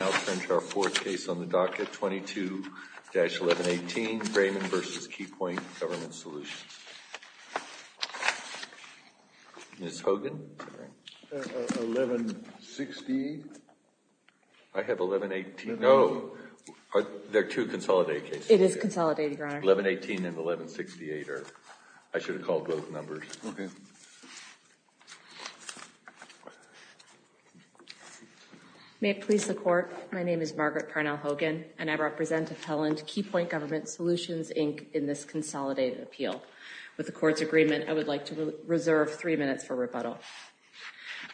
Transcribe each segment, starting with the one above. Now turn to our fourth case on the docket, 22-1118, Brayman v. Keypoint Government Solutions. Ms. Hogan? 1168? I have 1118. No. They're two consolidated cases. It is consolidated, Your Honor. 1118 and 1168. I should have called both numbers. Okay. May it please the Court, my name is Margaret Parnell Hogan and I represent Appellant Keypoint Government Solutions, Inc. in this consolidated appeal. With the Court's agreement, I would like to reserve three minutes for rebuttal.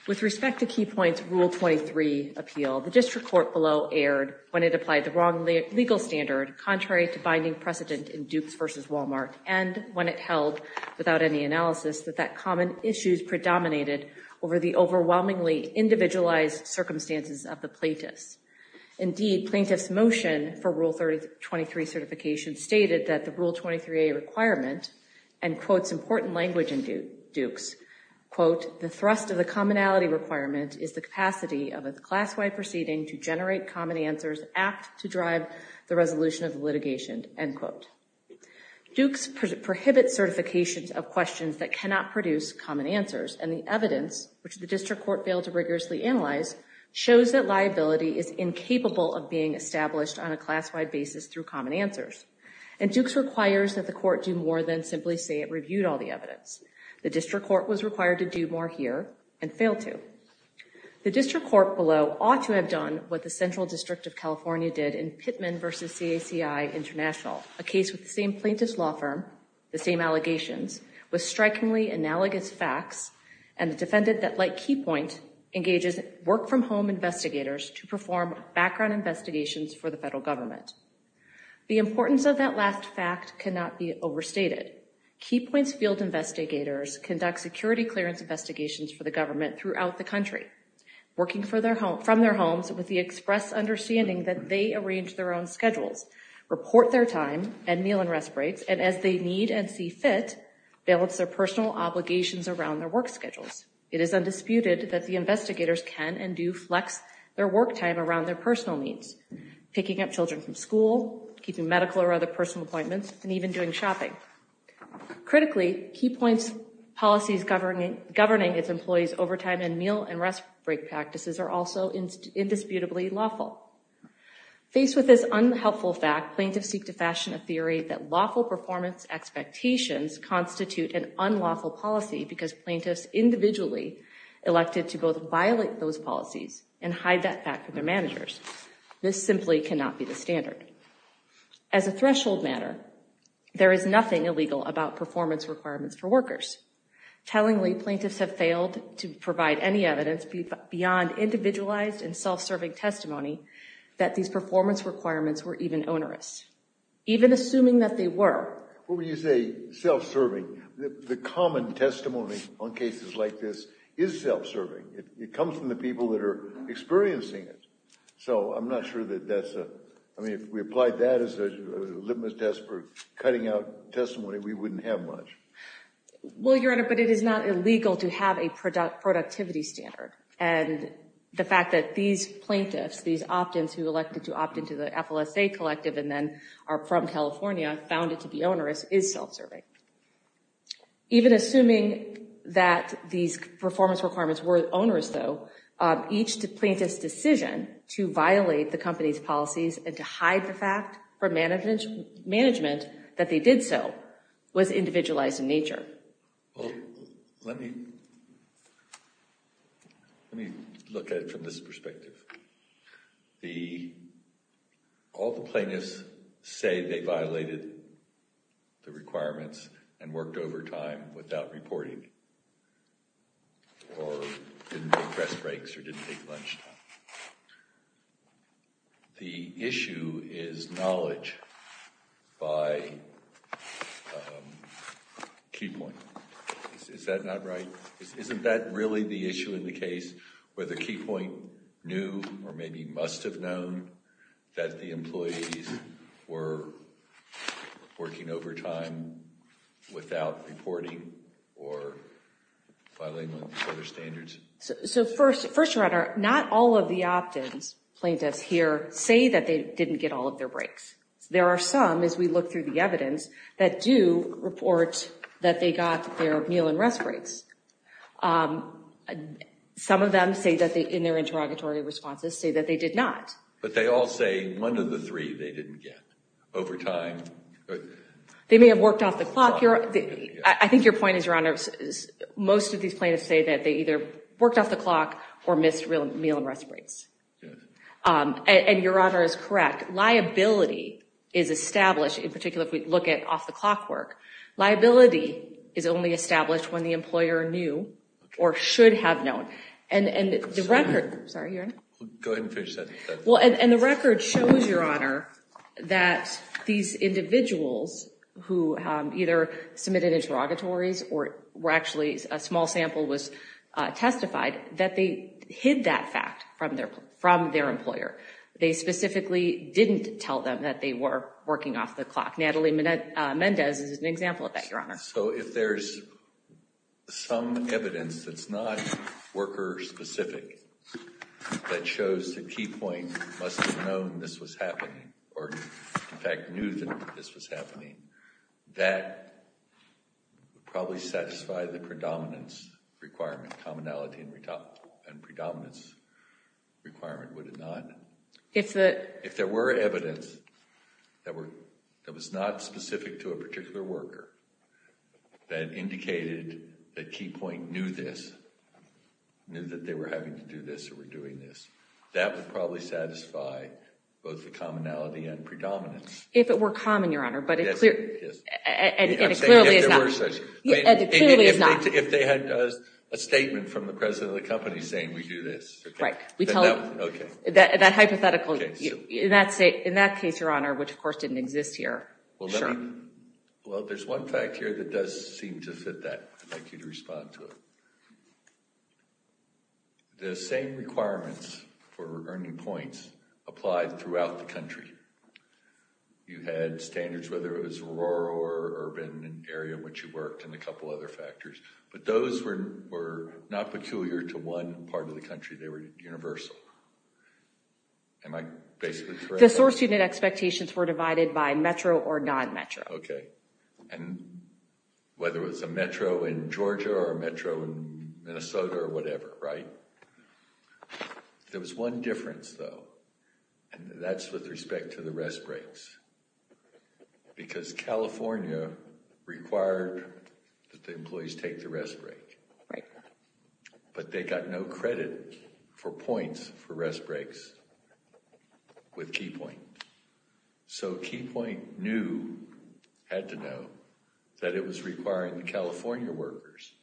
With respect to Keypoint's Rule 23 appeal, the District Court below erred when it applied the wrong legal standard contrary to binding precedent in Dukes v. Walmart and when it held, without any analysis, that that common issue is predominated over the overwhelmingly individualized circumstances of the plaintiffs. Indeed, plaintiffs' motion for Rule 23 certification stated that the Rule 23a requirement, and quotes important language in Dukes, quote, the thrust of the commonality requirement is the capacity of a class-wide proceeding to generate common answers apt to drive the resolution of the litigation, end quote. Dukes prohibits certifications of questions that cannot produce common answers and the evidence, which the District Court failed to rigorously analyze, shows that liability is incapable of being established on a class-wide basis through common answers. And Dukes requires that the Court do more than simply say it reviewed all the evidence. The District Court was required to do more here and failed to. The District Court below ought to have done what the Central District of California did in Pittman v. CACI International, a case with the same plaintiff's law firm, the same allegations, with strikingly analogous facts, and a defendant that, like Keypoint, engages work-from-home investigators to perform background investigations for the federal government. The importance of that last fact cannot be overstated. Keypoint's field investigators conduct security clearance investigations for the government throughout the country, working from their homes with the express understanding that they arrange their own schedules, report their time and meal and rest breaks, and as they need and see fit, balance their personal obligations around their work schedules. It is undisputed that the investigators can and do flex their work time around their personal needs, picking up children from school, keeping medical or other personal appointments, and even doing shopping. Critically, Keypoint's policies governing its employees' overtime and meal and rest break practices are also indisputably lawful. Faced with this unhelpful fact, plaintiffs seek to fashion a theory that lawful performance expectations constitute an unlawful policy because plaintiffs individually elected to both violate those policies and hide that fact from their managers. This simply cannot be the standard. As a threshold matter, there is nothing illegal about performance requirements for workers. Tellingly, plaintiffs have failed to provide any evidence beyond individualized and self-serving testimony that these performance requirements were even onerous, even assuming that they were. When you say self-serving, the common testimony on cases like this is self-serving. It comes from the people that are experiencing it. So I'm not sure that that's a, I mean, if we applied that as a litmus test for cutting out testimony, we wouldn't have much. Well, Your Honor, but it is not illegal to have a productivity standard. And the fact that these plaintiffs, these opt-ins who elected to opt into the FLSA collective and then are from California, found it to be onerous, is self-serving. Even assuming that these performance requirements were onerous, though, each plaintiff's decision to violate the company's policies and to hide the fact from management that they did so was individualized in nature. Well, let me let me look at it from this perspective. The, all the plaintiffs say they violated the requirements and worked overtime without reporting or didn't take rest breaks or didn't take lunch time. The issue is knowledge by key point. Is that not right? Isn't that really the working overtime without reporting or violating other standards? So first, first, Your Honor, not all of the opt-ins plaintiffs here say that they didn't get all of their breaks. There are some, as we look through the evidence, that do report that they got their meal and rest breaks. Some of them say that they, in their interrogatory responses, say that they did not. But they all say one of the three they didn't get over time. They may have worked off the clock. I think your point is, Your Honor, most of these plaintiffs say that they either worked off the clock or missed real meal and rest breaks. And Your Honor is correct. Liability is established, in particular, if we look at off-the-clock work. Liability is only established when the employer knew or should have known. And the record shows, Your Honor, that these individuals who either submitted interrogatories or actually a small sample was testified, that they hid that fact from their employer. They specifically didn't tell them that they were working off the clock. Natalie Mendez is an specific that shows that Key Point must have known this was happening or, in fact, knew that this was happening. That would probably satisfy the predominance requirement, commonality and predominance requirement, would it not? If there were evidence that was not specific to a particular worker that indicated that Key Point knew this, knew that they were having to do this or were doing this, that would probably satisfy both the commonality and predominance. If it were common, Your Honor, but it clearly is not. If they had a statement from the president of the company saying we do this. Right. That hypothetical, in that case, Your Honor, which of course didn't exist here. Well, there's one fact here that does seem to fit that. I'd like you to respond to it. The same requirements for earning points applied throughout the country. You had standards, whether it was rural or urban area in which you worked and a couple other factors, but those were not peculiar to one part of the country. They were universal. Am I basically correct? The source unit expectations were divided by Metro or non-Metro. Okay, and whether it was a Metro in Georgia or a Metro in Minnesota or whatever, right? There was one difference, though, and that's with respect to the rest breaks, because California required that the employees take the rest break. Right. But they got no credit for points for rest breaks with Key Point. So Key Point knew, had to know, that it was requiring California workers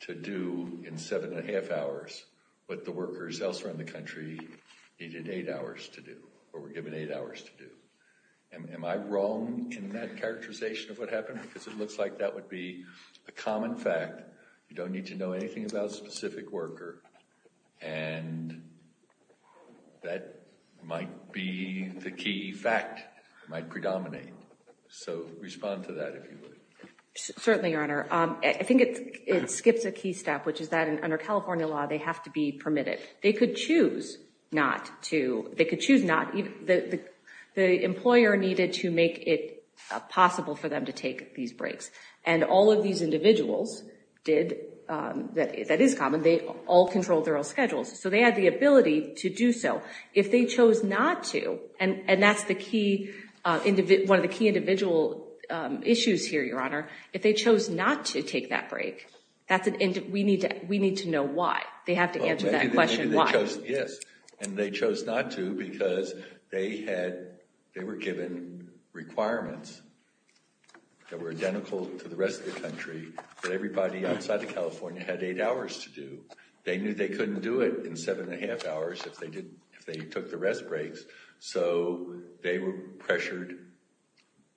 to do in seven and a half hours what the workers elsewhere in the country needed eight hours to do or were given eight hours to do. Am I wrong in that characterization of what happened? Because it looks like that would be a common fact. You don't need to know anything about a specific worker, and that might be the key fact, might predominate. So respond to that, if you would. Certainly, Your Honor. I think it skips a key step, which is that under California law, they have to be permitted. They could choose not to. They could choose not. The employer needed to possible for them to take these breaks, and all of these individuals did. That is common. They all controlled their own schedules, so they had the ability to do so. If they chose not to, and that's one of the key individual issues here, Your Honor. If they chose not to take that break, we need to know why. They have to answer that question why. Yes, and they chose not to because they were given requirements that were identical to the rest of the country that everybody outside of California had eight hours to do. They knew they couldn't do it in seven and a half hours if they took the rest breaks, so they were pressured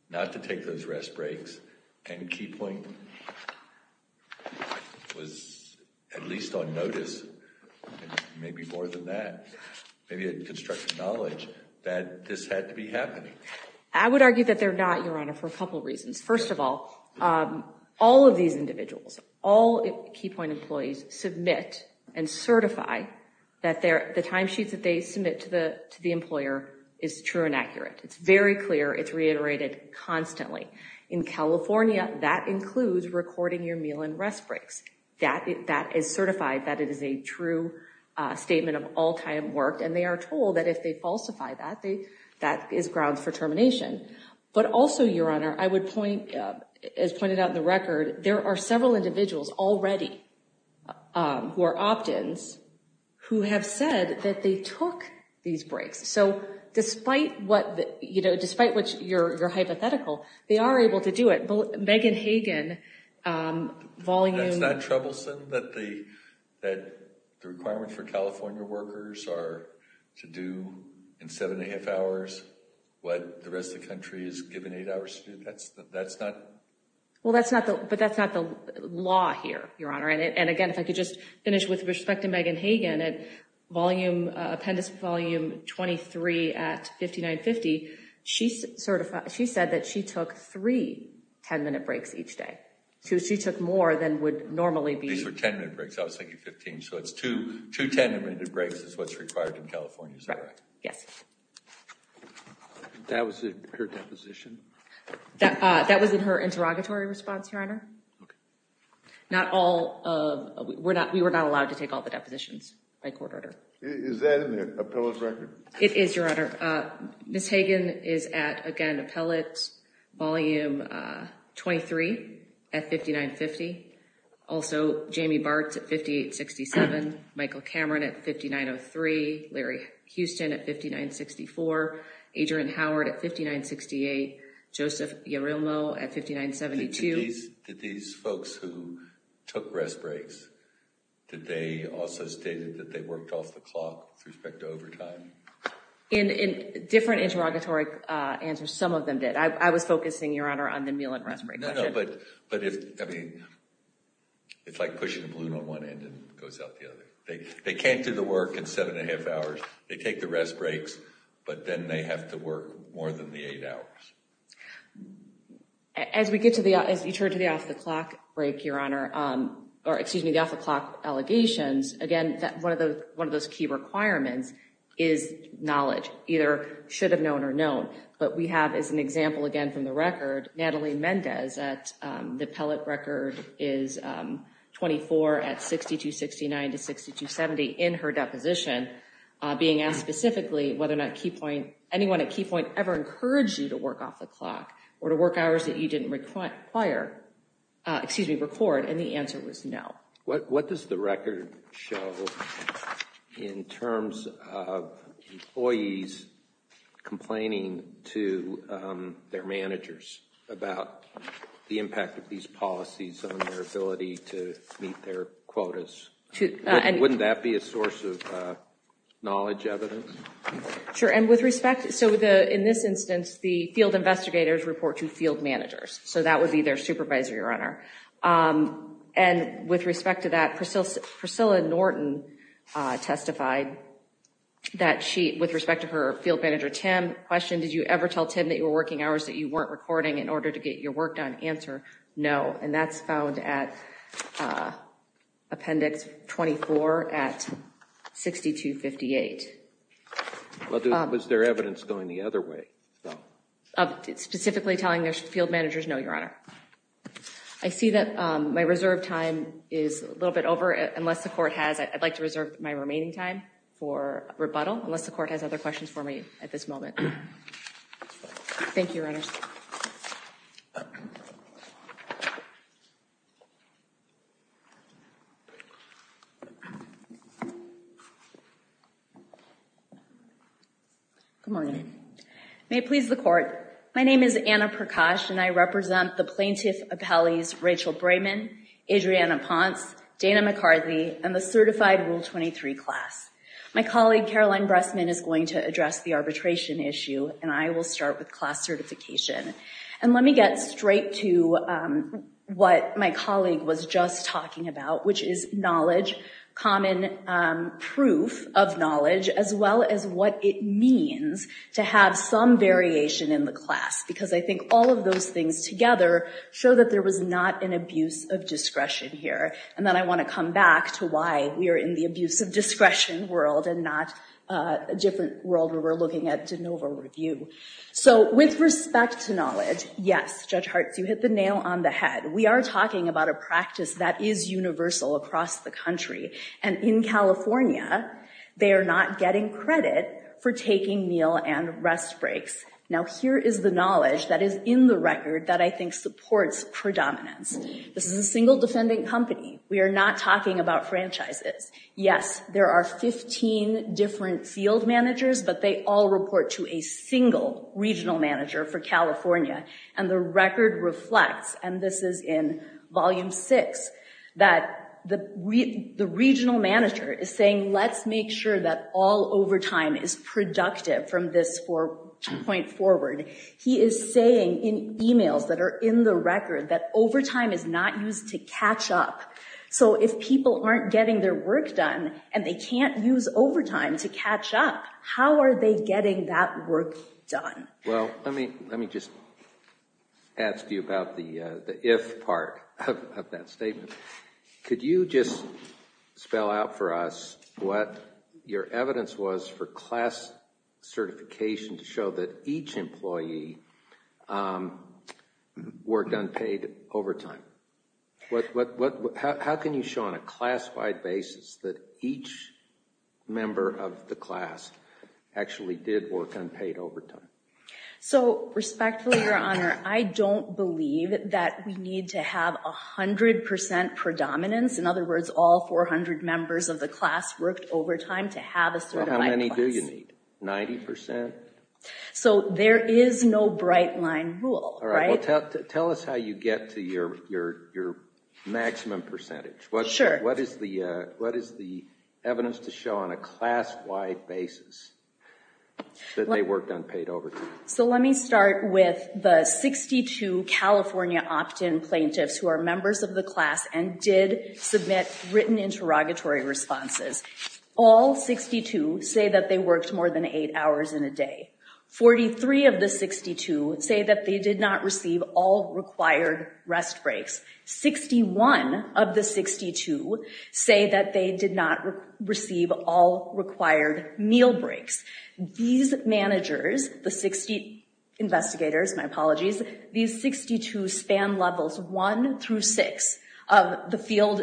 not to take those rest breaks, and KeyPoint was at least on notice, maybe more than that. Maybe it constructed knowledge that this had to be happening. I would argue that they're not, Your Honor, for a couple reasons. First of all, all of these individuals, all KeyPoint employees submit and certify that the time sheets that they reiterate constantly. In California, that includes recording your meal and rest breaks. That is certified that it is a true statement of all-time work, and they are told that if they falsify that, that is grounds for termination. But also, Your Honor, I would point, as pointed out in the record, there are several individuals already who are opt-ins who have said that they hypothetical. They are able to do it. Megan Hagen, volume... That's not troublesome that the requirement for California workers are to do in seven and a half hours what the rest of the country is given eight hours to do? That's not... But that's not the law here, Your Honor. Again, if I could just finish with respect to Megan Hagen, volume... Appendix volume 23 at 5950, she said that she took three 10-minute breaks each day. So she took more than would normally be... These were 10-minute breaks. I was thinking 15. So it's two 10-minute breaks is what's required in California, is that right? Yes. That was in her deposition? Okay. We were not allowed to take all the depositions by court order. Is that in the appellate record? It is, Your Honor. Ms. Hagen is at, again, appellate volume 23 at 5950. Also, Jamie Bartz at 5867, Michael Cameron at 5903, Larry Houston at 5903. Did these folks who took rest breaks, did they also state that they worked off the clock with respect to overtime? In different interrogatory answers, some of them did. I was focusing, Your Honor, on the meal and rest break. No, no. But if... I mean, it's like pushing a balloon on one end and it goes out the other. They can't do the work in seven and a half hours. They take the rest breaks, but then they have to work more than the eight hours. As we get to the... As we turn to the off-the-clock break, Your Honor, or excuse me, the off-the-clock allegations, again, one of those key requirements is knowledge, either should have known or known. But we have, as an example, again, from the record, Natalie Mendez at... The appellate record is 24 at 6269 to 6270 in her deposition, being asked specifically whether or not Key Point... Anyone at Key Point ever encouraged you work off the clock or to work hours that you didn't require... Excuse me, record? And the answer was no. What does the record show in terms of employees complaining to their managers about the impact of these policies on their ability to meet their quotas? Wouldn't that be a source of knowledge evidence? Sure. And with respect... So in this instance, the field investigators report to field managers. So that would be their supervisor, Your Honor. And with respect to that, Priscilla Norton testified that she, with respect to her field manager, Tim, questioned, did you ever tell Tim that you were working hours that you weren't recording in order to get your work done? Answer, no. And that's found at appendix 24 at 6258. Was there evidence going the other way? Specifically telling their field managers, no, Your Honor. I see that my reserve time is a little bit over. Unless the court has... I'd like to reserve my remaining time for rebuttal, unless the court has other questions for me at this moment. Thank you, Your Honor. Good morning. May it please the court. My name is Anna Prakash and I represent the plaintiff appellees, Rachel Brayman, Adriana Ponce, Dana McCarthy, and the certified Rule 23 class. My colleague, Caroline Bressman, is going to address the arbitration issue and I will start with class certification. And let me get straight to what my colleague was just talking about, which is knowledge, common proof of knowledge, as well as what it means to have some variation in the class. Because I think all of those things together show that there was not an abuse of discretion world and not a different world where we're looking at de novo review. So with respect to knowledge, yes, Judge Hart, you hit the nail on the head. We are talking about a practice that is universal across the country. And in California, they are not getting credit for taking meal and rest breaks. Now, here is the knowledge that is in the record that I think supports predominance. This is a single defendant company. We are not talking about franchises. Yes, there are 15 different field managers, but they all report to a single regional manager for California. And the record reflects, and this is in volume six, that the regional manager is saying, let's make sure that all overtime is productive from this point forward. He is saying in emails that are in the record that overtime is not used to catch up. So if people aren't getting their work done and they can't use overtime to catch up, how are they getting that work done? Well, let me just ask you about the if part of that statement. Could you just spell out for us what your evidence was for class certification to show that each employee worked unpaid overtime? How can you show on a class-wide basis that each member of the class actually did work unpaid overtime? So respectfully, Your Honor, I don't believe that we need to have 100 percent predominance. In other words, all 400 members of the class worked overtime to have a certified class. How many do you need? 90 percent? So there is no bright line rule, right? Tell us how you get to your maximum percentage. What is the evidence to show on a class-wide basis that they worked unpaid overtime? So let me start with the 62 California opt-in plaintiffs who are members of the class and did written interrogatory responses. All 62 say that they worked more than eight hours in a day. 43 of the 62 say that they did not receive all required rest breaks. 61 of the 62 say that they did not receive all required meal breaks. These managers, the 60 investigators, my apologies, these 62 span levels one through six of the field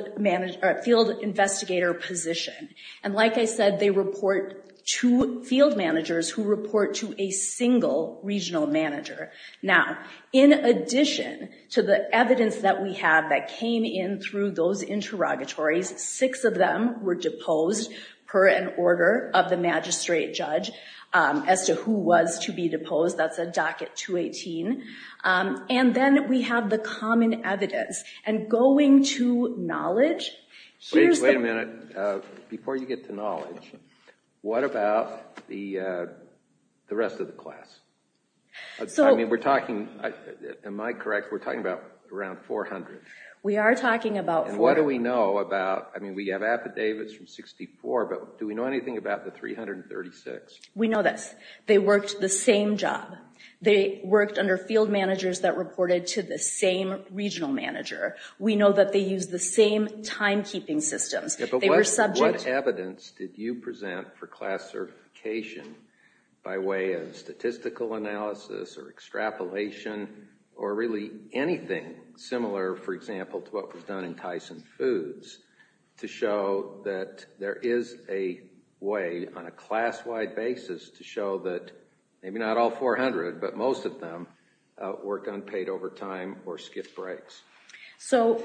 investigator position. And like I said, they report to field managers who report to a single regional manager. Now, in addition to the evidence that we have that came in through those interrogatories, six of them were deposed per an order of the magistrate judge as to who be deposed. That's a docket 218. And then we have the common evidence. And going to knowledge, here's the... Wait a minute. Before you get to knowledge, what about the rest of the class? So... I mean, we're talking, am I correct? We're talking about around 400. We are talking about 400. What do we know about, I mean, we have affidavits from 64, but do we know anything about the 336? We know this. They worked the same job. They worked under field managers that reported to the same regional manager. We know that they use the same timekeeping systems. Yeah, but what evidence did you present for classification by way of statistical analysis or extrapolation or really anything similar, for example, to what was done in Tyson Foods to show that there is a way on a class-wide basis to show that maybe not all 400, but most of them worked unpaid overtime or skipped breaks? So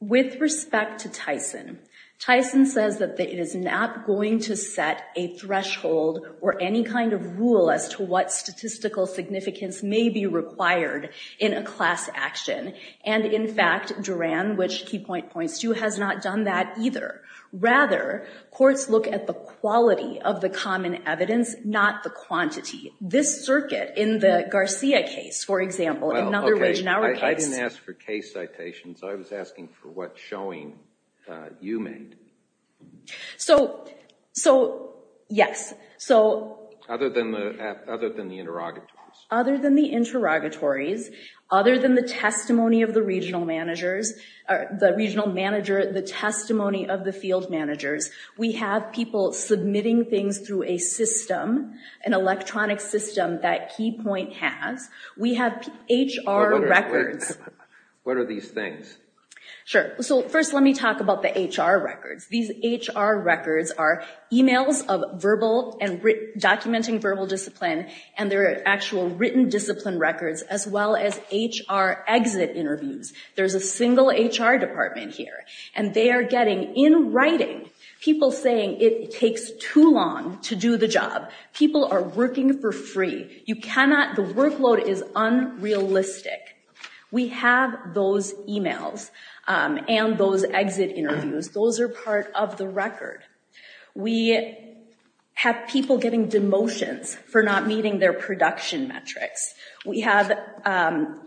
with respect to Tyson, Tyson says that it is not going to set a threshold or any kind of rule as to what statistical significance may be required in a class action. And in fact, Duran, which Key Point points to, has not done that either. Rather, courts look at the quality of the common evidence, not the quantity. This circuit in the Garcia case, for example, in another Wage and Hour case... I didn't ask for case citations. I was asking for what showing you made. So, yes. Other than the interrogatories. Other than the interrogatories, other than the testimony of the regional managers, the regional manager, the testimony of the field managers, we have people submitting things through a system, an electronic system that Key Point has. We have HR records. What are these things? Sure. So first, let me talk about the HR records. These HR records are emails of verbal and actual written discipline records, as well as HR exit interviews. There's a single HR department here. And they are getting, in writing, people saying it takes too long to do the job. People are working for free. You cannot... The workload is unrealistic. We have those emails and those exit interviews. Those are part of the record. We have people getting demotions for not meeting their production metrics. We have,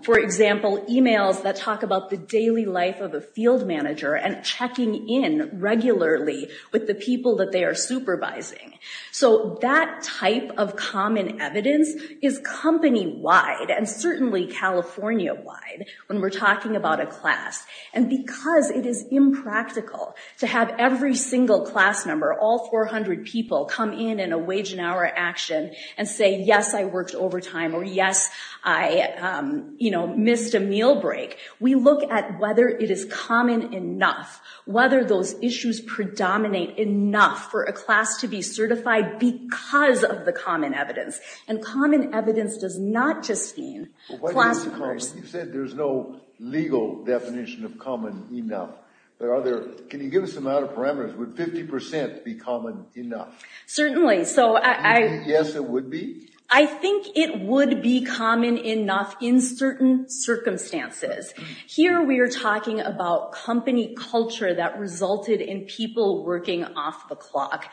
for example, emails that talk about the daily life of a field manager and checking in regularly with the people that they are supervising. So that type of common evidence is company-wide and certainly California-wide when we're talking about a class. And because it is impractical to have every single class number, all 400 people, come in in a wage and hour action and say, yes, I worked overtime, or yes, I missed a meal break. We look at whether it is common enough, whether those issues predominate enough for a class to be certified because of the common evidence. And common evidence does not just mean class first. You said there's no legal definition of common enough. Can you give us a parameters? Would 50% be common enough? Certainly. So I... Yes, it would be? I think it would be common enough in certain circumstances. Here we are talking about company culture that resulted in people working off the clock.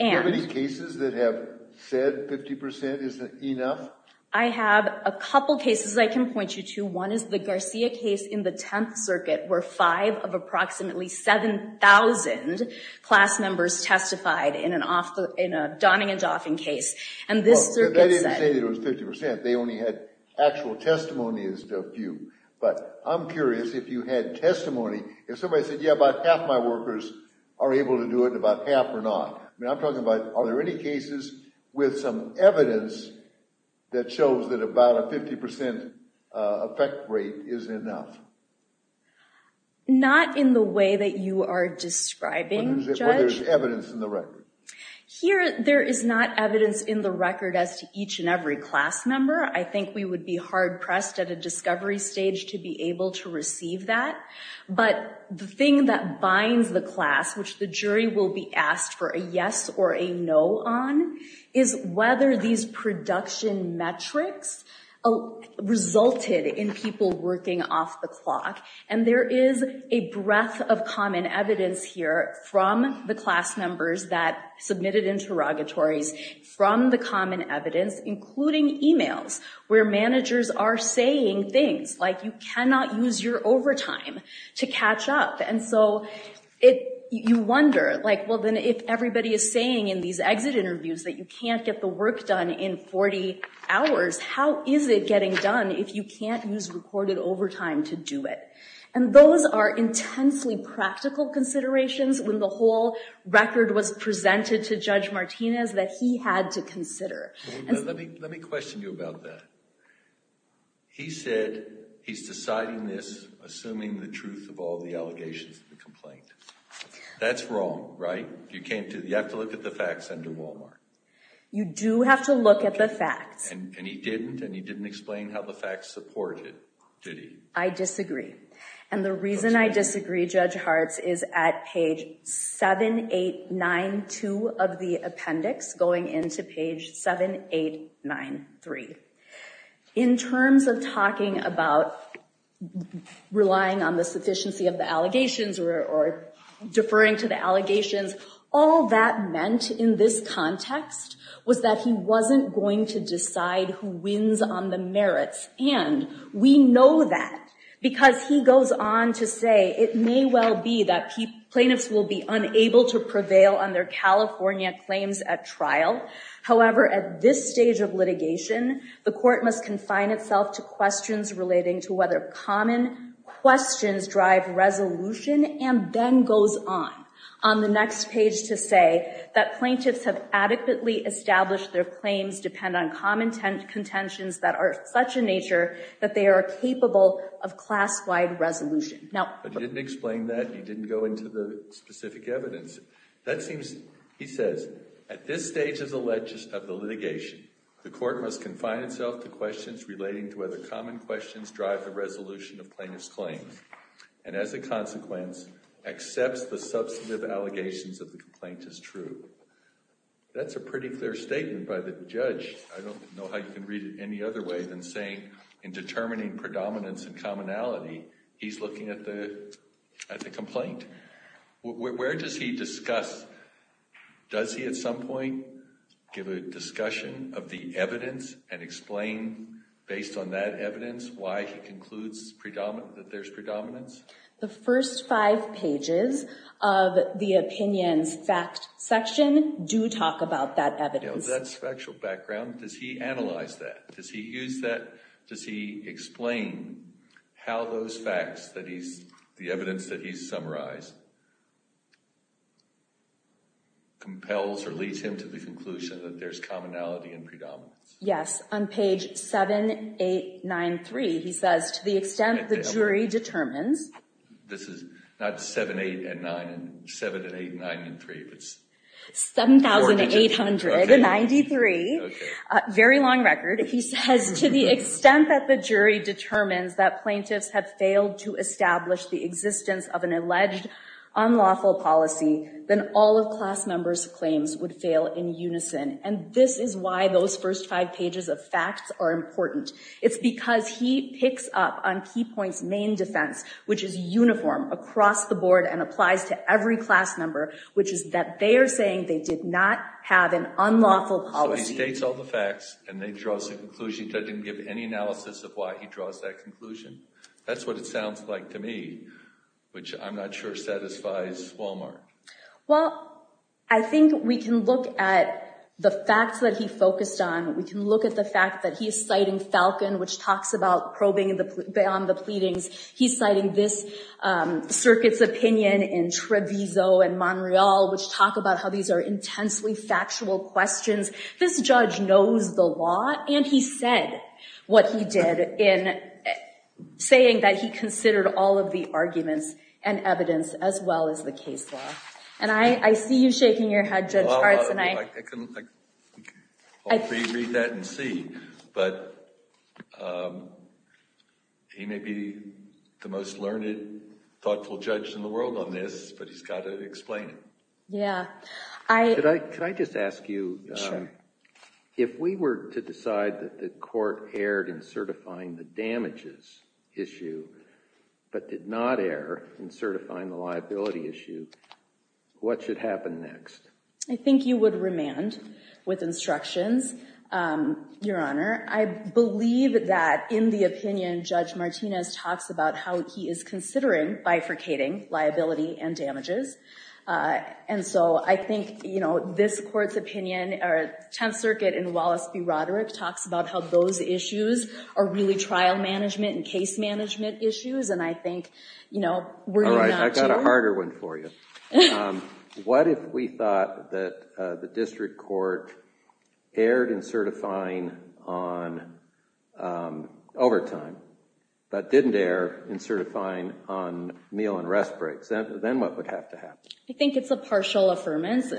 Are there any cases that have said 50% isn't enough? I have a couple cases I can point you to. One is the Garcia case in the 10th Circuit where five of approximately 7,000 class members testified in a Donning and Dauphin case. And this circuit said... Well, they didn't say it was 50%. They only had actual testimonies of you. But I'm curious if you had testimony, if somebody said, yeah, about half my workers are able to do it and about half are not. I mean, I'm talking about are there any cases with some evidence that shows that about a 50% effect rate is enough? Not in the way that you are describing, Judge. But there's evidence in the record? Here, there is not evidence in the record as to each and every class member. I think we would be hard-pressed at a discovery stage to be able to receive that. But the thing that binds the class, which the jury will be asked for a yes or a no on, is whether these production metrics resulted in people working off the clock. And there is a breadth of common evidence here from the class members that submitted interrogatories from the common evidence, including emails where managers are saying things like, you cannot use your overtime to catch up. And so you wonder, well, then if everybody is saying in these exit interviews that you can't get the work done in 40 hours, how is it getting done if you can't use recorded overtime to do it? And those are intensely practical considerations when the whole record was presented to Judge Martinez that he had to consider. Let me question you about that. He said he's deciding this assuming the truth of all the allegations of the complaint. That's wrong, right? You have to look at the facts under Walmart. You do have to look at the facts. And he didn't, and he didn't explain how the facts support it, did he? I disagree. And the reason I disagree, Judge Hartz, is at page 7892 of the appendix going into page 7893. In terms of talking about relying on the sufficiency of the allegations or deferring to the allegations, all that meant in this context was that he wasn't going to decide who wins on the merits. And we know that because he goes on to say it may well be that plaintiffs will be unable to prevail on their California claims at trial. However, at this stage of litigation, the court must confine itself to questions relating to whether common questions drive resolution, and then goes on on the next page to say that plaintiffs have adequately established their claims depend on common contentions that are such a nature that they are capable of class-wide resolution. But he didn't explain that. He didn't go into the specific evidence. That seems, he says, at this stage of the litigation, the court must confine itself to the resolution of plaintiff's claims, and as a consequence, accepts the substantive allegations of the complaint as true. That's a pretty clear statement by the judge. I don't know how you can read it any other way than saying in determining predominance and commonality, he's looking at the complaint. Where does he discuss, does he at some point give a discussion of the evidence and explain based on that that there's predominance? The first five pages of the opinions fact section do talk about that evidence. That's factual background. Does he analyze that? Does he use that? Does he explain how those facts that he's, the evidence that he's summarized compels or leads him to the conclusion that there's commonality and predominance? Yes, on page seven, eight, nine, three, he says, to the extent the jury determines, this is not seven, eight, and nine, seven and eight, nine, and three. It's 7,893. Very long record. He says, to the extent that the jury determines that plaintiffs have failed to establish the existence of an alleged unlawful policy, then all of class members' claims would fail in unison. And this is why those first five pages of facts are important. It's because he picks up on Key Point's main defense, which is uniform across the board and applies to every class member, which is that they are saying they did not have an unlawful policy. So he states all the facts and they draw some conclusions. I didn't give any analysis of why he draws that conclusion. That's what it sounds like to me, which I'm not sure satisfies Walmart. Well, I think we can look at the facts that he focused on. We can look at the fact that he is citing Falcon, which talks about probing beyond the pleadings. He's citing this circuit's opinion in Treviso and Montreal, which talk about how these are intensely factual questions. This judge knows the law and he said what he did in saying that he considered all of the arguments and evidence as well as the case law. And I see you shaking your head, Judge Hartz. I can read that and see, but he may be the most learned, thoughtful judge in the world on this, but he's got to explain it. Yeah. Could I just ask you, if we were to decide that the court erred in certifying the damages issue but did not err in certifying the liability issue, what should happen next? I think you would remand with instructions, Your Honor. I believe that in the opinion, Judge Martinez talks about how he is considering bifurcating liability and damages. And so I think, you know, this court's opinion or Tenth Circuit in Wallace v. Roderick talks about those issues are really trial management and case management issues. And I think, you know, we're not sure. All right. I've got a harder one for you. What if we thought that the district court erred in certifying on overtime but didn't err in certifying on meal and rest breaks? Then what would have to happen? I think it's a partial affirmance.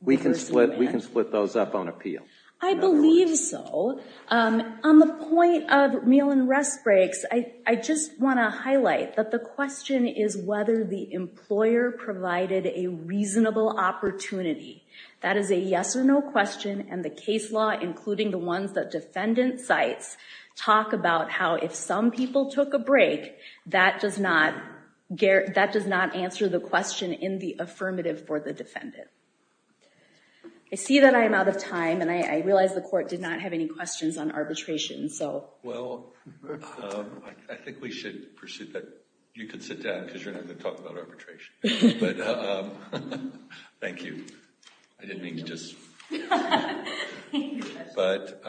We can split those up on appeal. I believe so. On the point of meal and rest breaks, I just want to highlight that the question is whether the employer provided a reasonable opportunity. That is a yes or no question. And the case law, including the ones that defendant cites, talk about how if some people took a break, that does not answer the question in the affirmative for the defendant. I see that I'm out of time, and I realize the court did not have any questions on arbitration, so. Well, I think we should pursue that. You can sit down because you're not going to talk about arbitration. But thank you. I didn't mean to just. But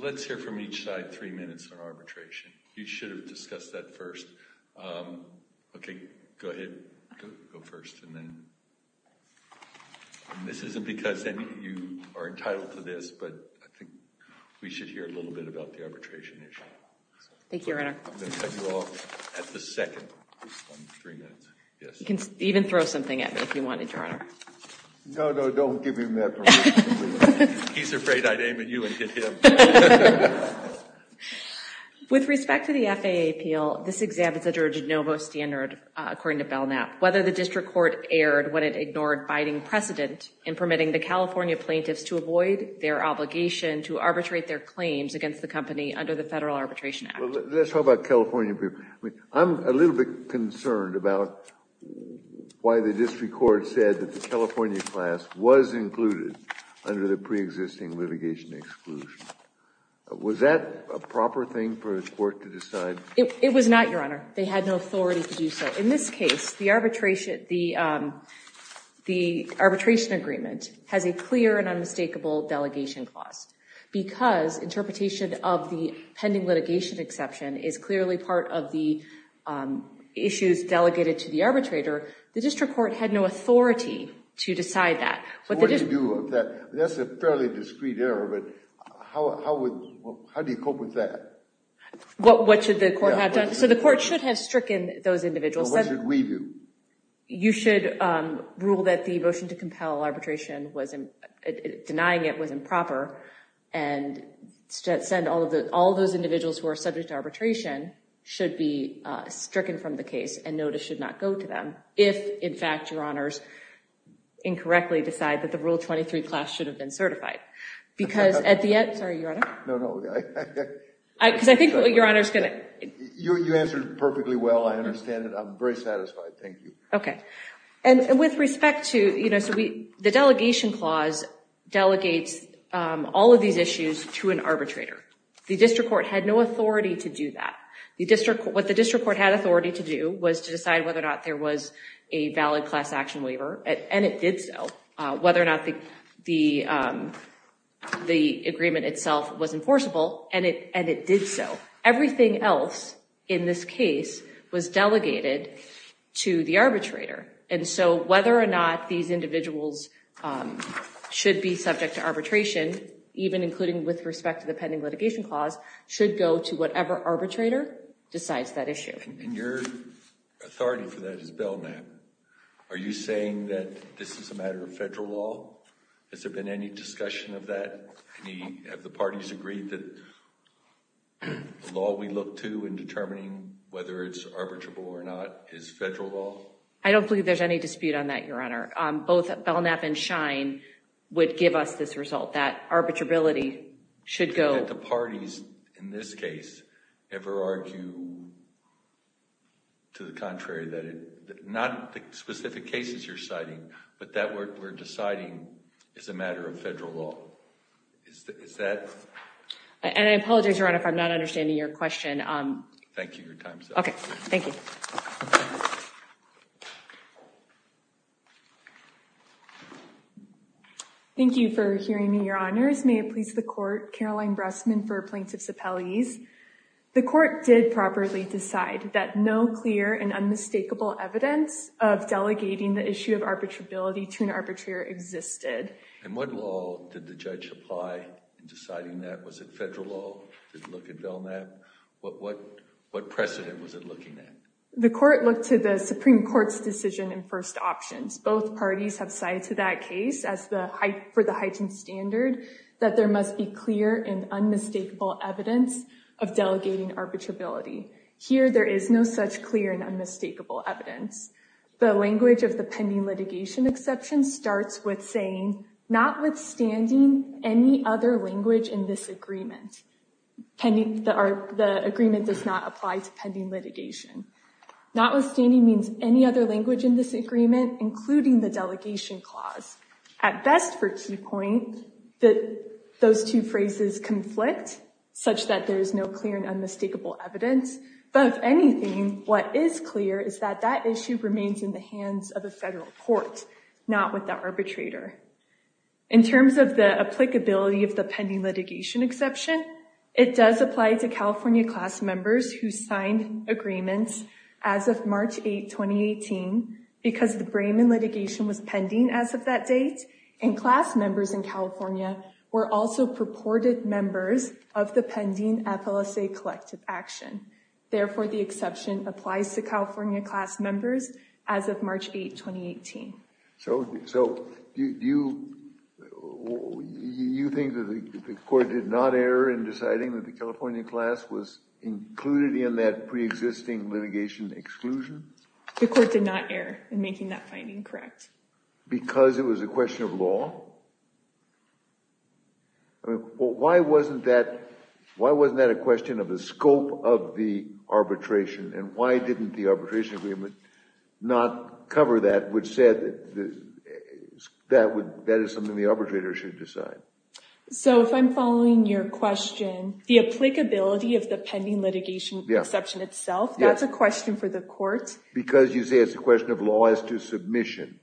let's hear from each side three minutes on arbitration. You should have discussed that first. OK, go ahead. Go first and then. And this isn't because any of you are entitled to this, but I think we should hear a little bit about the arbitration issue. Thank you, Your Honor. I'm going to cut you off at the second on three minutes. Yes. You can even throw something at me if you wanted, Your Honor. No, no, don't give him that permission. He's afraid I'd aim at you and hit him. With respect to the FAA appeal, this exam is a juror de novo standard, according to Belknap, whether the district court erred when it ignored biding precedent in permitting the California plaintiffs to avoid their obligation to arbitrate their claims against the company under the Federal Arbitration Act. Let's talk about California people. I'm a little bit concerned about why the district court said that the California class was included under the Was that a proper thing for the court to decide? It was not, Your Honor. They had no authority to do so. In this case, the arbitration, the the arbitration agreement has a clear and unmistakable delegation clause because interpretation of the pending litigation exception is clearly part of the issues delegated to the arbitrator. The district court had no authority to decide that. So what do you do with that? That's a fairly discreet error, but how do you cope with that? What should the court have done? So the court should have stricken those individuals. What should we do? You should rule that the motion to compel arbitration, denying it, was improper and send all of those individuals who are subject to arbitration should be stricken from the case and notice should not go to them if in fact, Your Honors, incorrectly decide that the Rule 23 class should have been certified. Because at the end, sorry, Your Honor. No, no. Because I think Your Honor is going to. You answered perfectly well. I understand it. I'm very satisfied. Thank you. Okay. And with respect to, you know, so the delegation clause delegates all of these issues to an arbitrator. The district court had no authority to do that. What the district court had authority to do was to decide whether or not there was a valid class action waiver. And it did so. Whether or not the agreement itself was enforceable. And it did so. Everything else in this case was delegated to the arbitrator. And so whether or not these individuals should be subject to arbitration, even including with respect to the pending litigation clause, should go to whatever arbitrator decides that issue. And your authority for that is bailman. Are you saying that this is a matter of federal law? Has there been any discussion of that? Have the parties agreed that the law we look to in determining whether it's arbitrable or not is federal law? I don't believe there's any dispute on that, Your Honor. Both Belknap and Schein would give us this result that arbitrability should go. I don't think that the parties in this case ever argue to the contrary that it's not the specific cases you're citing, but that we're deciding is a matter of federal law. Is that? And I apologize, Your Honor, if I'm not understanding your question. Thank you for your time, sir. Okay. Thank you. Thank you for hearing me, Your Honors. May it please the court, Caroline Bressman for plaintiff's appellees. The court did properly decide that no clear and unmistakable evidence of delegating the issue of arbitrability to an arbitrator existed. And what law did the judge apply in deciding that? Was it federal law? Did it look at Belknap? What precedent was it looking at? The court looked to the Supreme Court's decision in first options. Both parties have cited to that case as the height for the hygiene standard that there must be clear and unmistakable evidence of delegating arbitrability. Here, there is no such clear and unmistakable evidence. The language of the pending litigation exception starts with saying, notwithstanding any other language in this agreement, the agreement does not apply to pending litigation. Notwithstanding means any other language in this agreement, including the delegation clause. At best, for key point, that those two phrases conflict such that there is no clear and unmistakable evidence. But if anything, what is clear is that that issue remains in the hands of a federal court, not with the arbitrator. In terms of the applicability of the pending litigation exception, it does apply to California class members who signed agreements as of March 8, 2018, because the Brayman litigation was pending as of that date, and class members in California were also purported members of the pending FLSA collective action. Therefore, the exception applies to California class members as of March 8, 2018. So you think that the court did not err in deciding that the California class was included in that pre-existing litigation exclusion? The court did not err in making that finding correct. Because it was a question of law? I mean, why wasn't that a question of the scope of the arbitration? And why didn't the arbitration agreement not cover that, which said that is something the arbitrator should decide? So if I'm following your question, the applicability of the pending litigation exception itself, that's a question for the court. Because you say it's a question of law as to submission.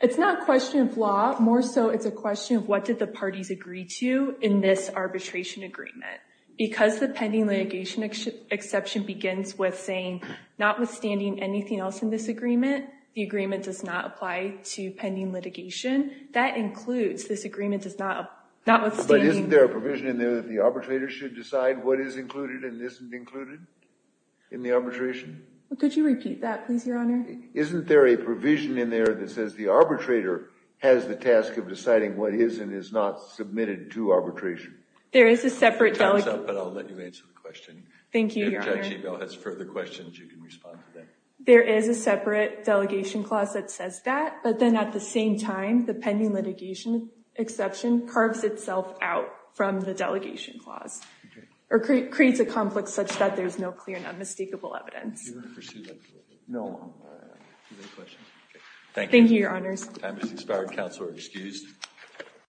It's not a question of law. More so, it's a question of what did the parties agree to in this arbitration agreement. Because the pending litigation exception begins with saying, notwithstanding anything else in this agreement, the agreement does not apply to pending litigation. That includes, this agreement does not, notwithstanding. But isn't there a provision in there that the arbitrator should decide what is included and isn't included? In the arbitration? Could you repeat that, please, Your Honor? Isn't there a provision in there that says the arbitrator has the task of deciding what is and is not submitted to arbitration? There is a separate delegation. Time's up, but I'll let you answer the question. Thank you, Your Honor. If Judge Ebel has further questions, you can respond to them. There is a separate delegation clause that says that. But then at the same time, the pending litigation exception carves itself out from the delegation clause. Or creates a complex such that there's no clear and unmistakable evidence. Do you want to pursue that? No. Thank you, Your Honors. Time has expired. Counsel are excused.